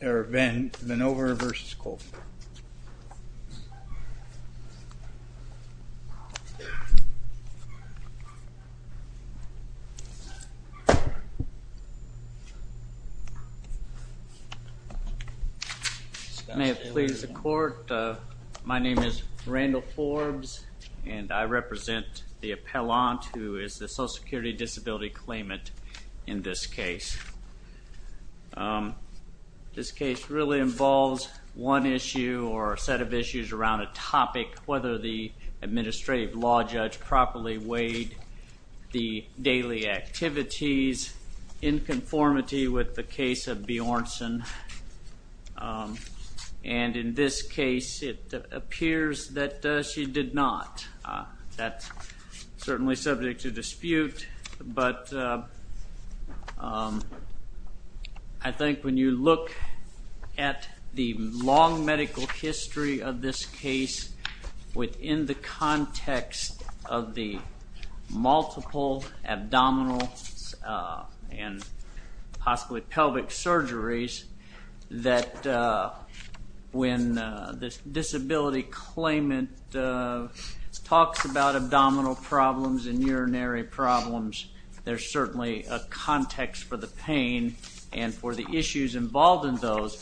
Vanover v. Colvin. May it please the court, my name is Randall Forbes and I represent the appellant who is the Social Security Disability Claimant in this case. This case really involves one issue or a set of issues around a topic whether the administrative law judge properly weighed the daily activities in conformity with the case of Bjornsson and in this case it appears that she did not. That's certainly subject to dispute but I think when you look at the long medical history of this case within the context of the multiple abdominal and possibly pelvic surgeries that when this disability claimant talks about abdominal problems and urinary problems there's certainly a context for the pain and for the issues involved in those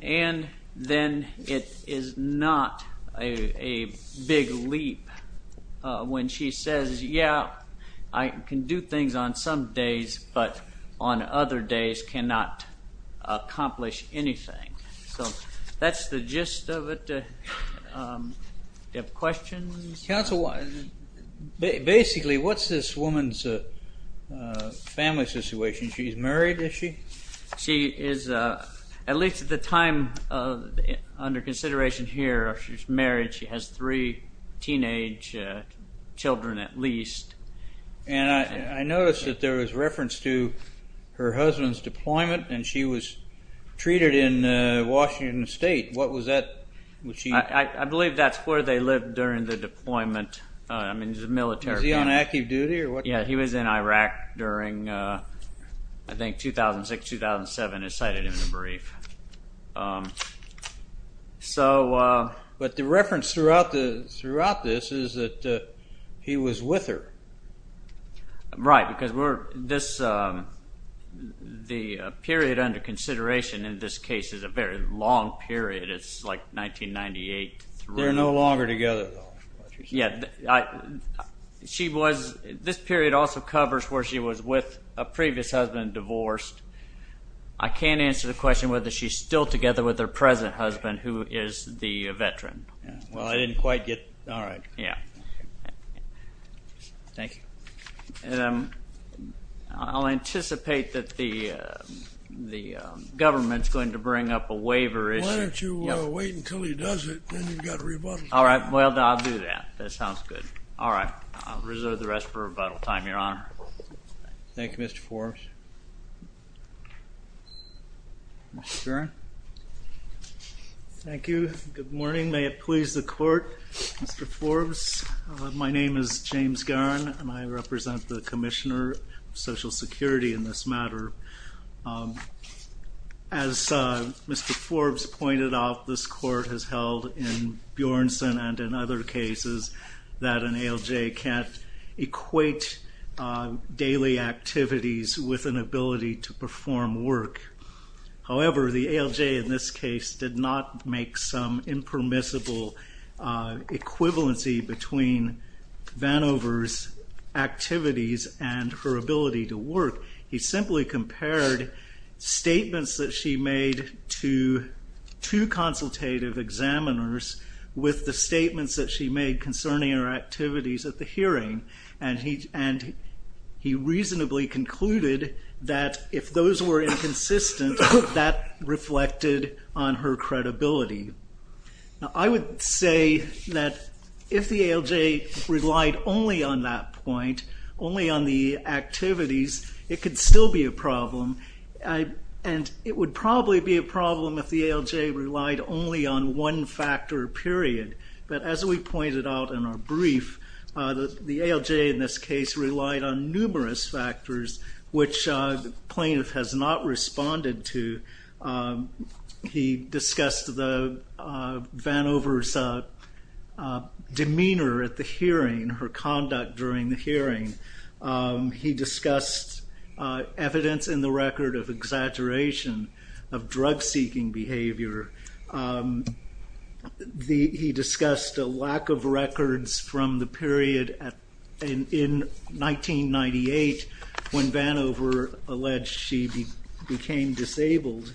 and then it is not a big leap when she says I can do things on some days but on other days cannot accomplish anything. So that's the gist of it. Do you have questions? Counsel, basically what's this woman's family situation? She's married is she? She is at least at the time under consideration here she's married she has three teenage children at least. And I noticed that there was reference to her husband's deployment and she was treated in Washington State what was that? I believe that's where they lived during the deployment I mean the military. Was he on active duty or what? Yeah he was in Iraq during I think 2006-2007 as cited in the brief. But the reference throughout this is that he was with her. Right because the period under consideration in this case is a very long period it's like 1998. They're no was with a previous husband divorced I can't answer the question whether she's still together with her present husband who is the veteran. Well I didn't quite get all right yeah. Thank you. I'll anticipate that the the government's going to bring up a waiver issue. Why don't you wait until he does it then you've got a rebuttal time. All right well I'll do that that sounds good all right I'll reserve the rest for rebuttal time your honor. Thank you Mr. Forbes. Mr. Guerin. Thank you good morning may it please the court Mr. Forbes my name is James Guerin and I represent the Commissioner of Social Security in this matter. As Mr. Forbes pointed out this case is that an ALJ can't equate daily activities with an ability to perform work. However the ALJ in this case did not make some impermissible equivalency between Vanover's activities and her ability to work. He simply compared statements that she made to two consultative examiners with the she made concerning her activities at the hearing and he and he reasonably concluded that if those were inconsistent that reflected on her credibility. Now I would say that if the ALJ relied only on that point only on the activities it could still be a problem and it would probably be a one-factor period but as we pointed out in our brief that the ALJ in this case relied on numerous factors which plaintiff has not responded to. He discussed the Vanover's demeanor at the hearing, her conduct during the hearing. He discussed evidence in the record of exaggeration of drug-seeking behavior He discussed a lack of records from the period in 1998 when Vanover alleged she became disabled.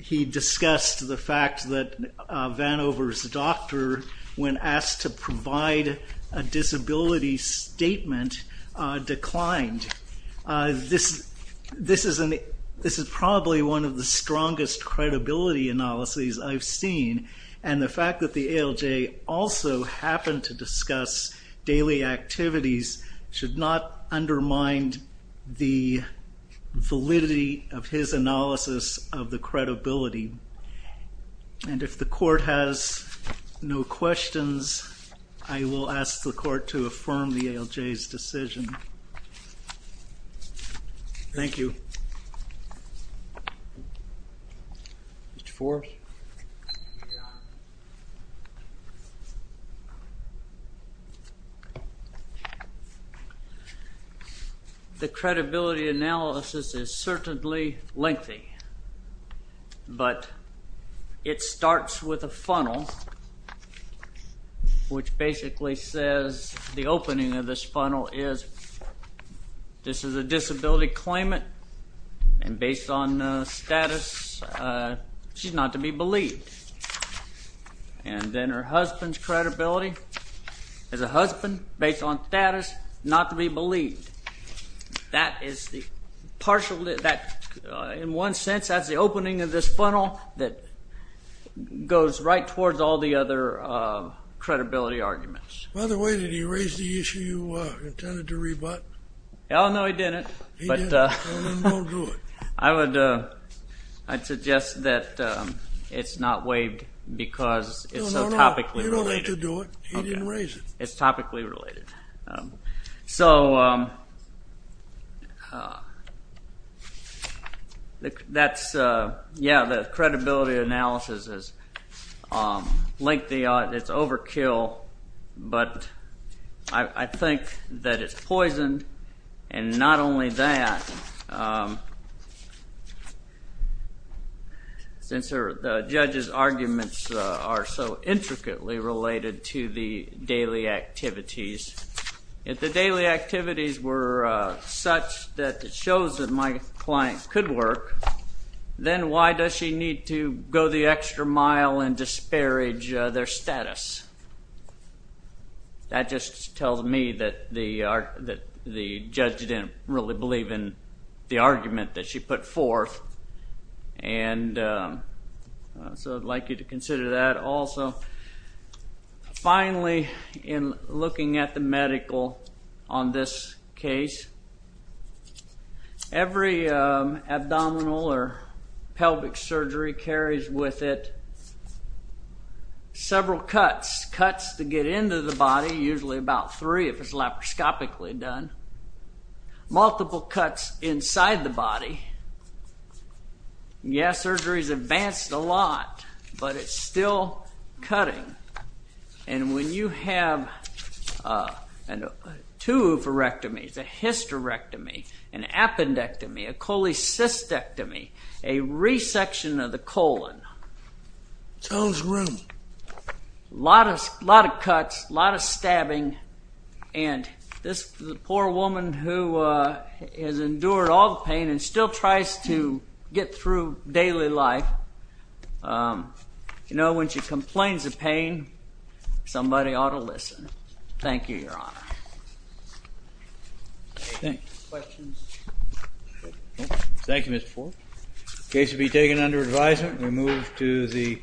He discussed the fact that Vanover's doctor when asked to provide a disability statement declined. This is probably one the strongest credibility analyses I've seen and the fact that the ALJ also happened to discuss daily activities should not undermine the validity of his analysis of the credibility and if the court has no questions I will ask the Mr. Forrest. The credibility analysis is certainly lengthy but it starts with a funnel which basically says the opening of this funnel is this is a disability claimant and based on status she's not to be believed and then her husband's credibility as a husband based on status not to be believed. That is the partial that in one sense that's the opening of this funnel that goes right towards all the other credibility arguments. By the way did he raise the issue you intended to do it? I would I'd suggest that it's not waived because it's so topically related. You don't have to do it. He didn't raise it. It's topically related. So that's yeah the credibility analysis is lengthy it's overkill but I think that it's poisoned and not only that since the judge's arguments are so intricately related to the daily activities. If the daily activities were such that it shows that my client could work then why does she need to go the extra mile and disparage their status? That just tells me that the judge didn't really believe in the argument that she put forth and so I'd like you to consider that also. Finally in looking at the medical on this case every abdominal or pelvic surgery carries with it several cuts. Cuts to get into the body usually about three if it's laparoscopically done. Multiple cuts inside the body. Yes surgery's advanced a lot but it's still cutting and when you have two oophorectomies, a hysterectomy, an appendectomy, a cholecystectomy, a resection of the colon, a lot of cuts, a lot of stabbing and this poor woman who has endured all the pain and still tries to get through daily life you know when she complains of pain somebody ought to listen. Thank you your honor. Thank you Mr. Fork. The case will be taken under advisement we move to the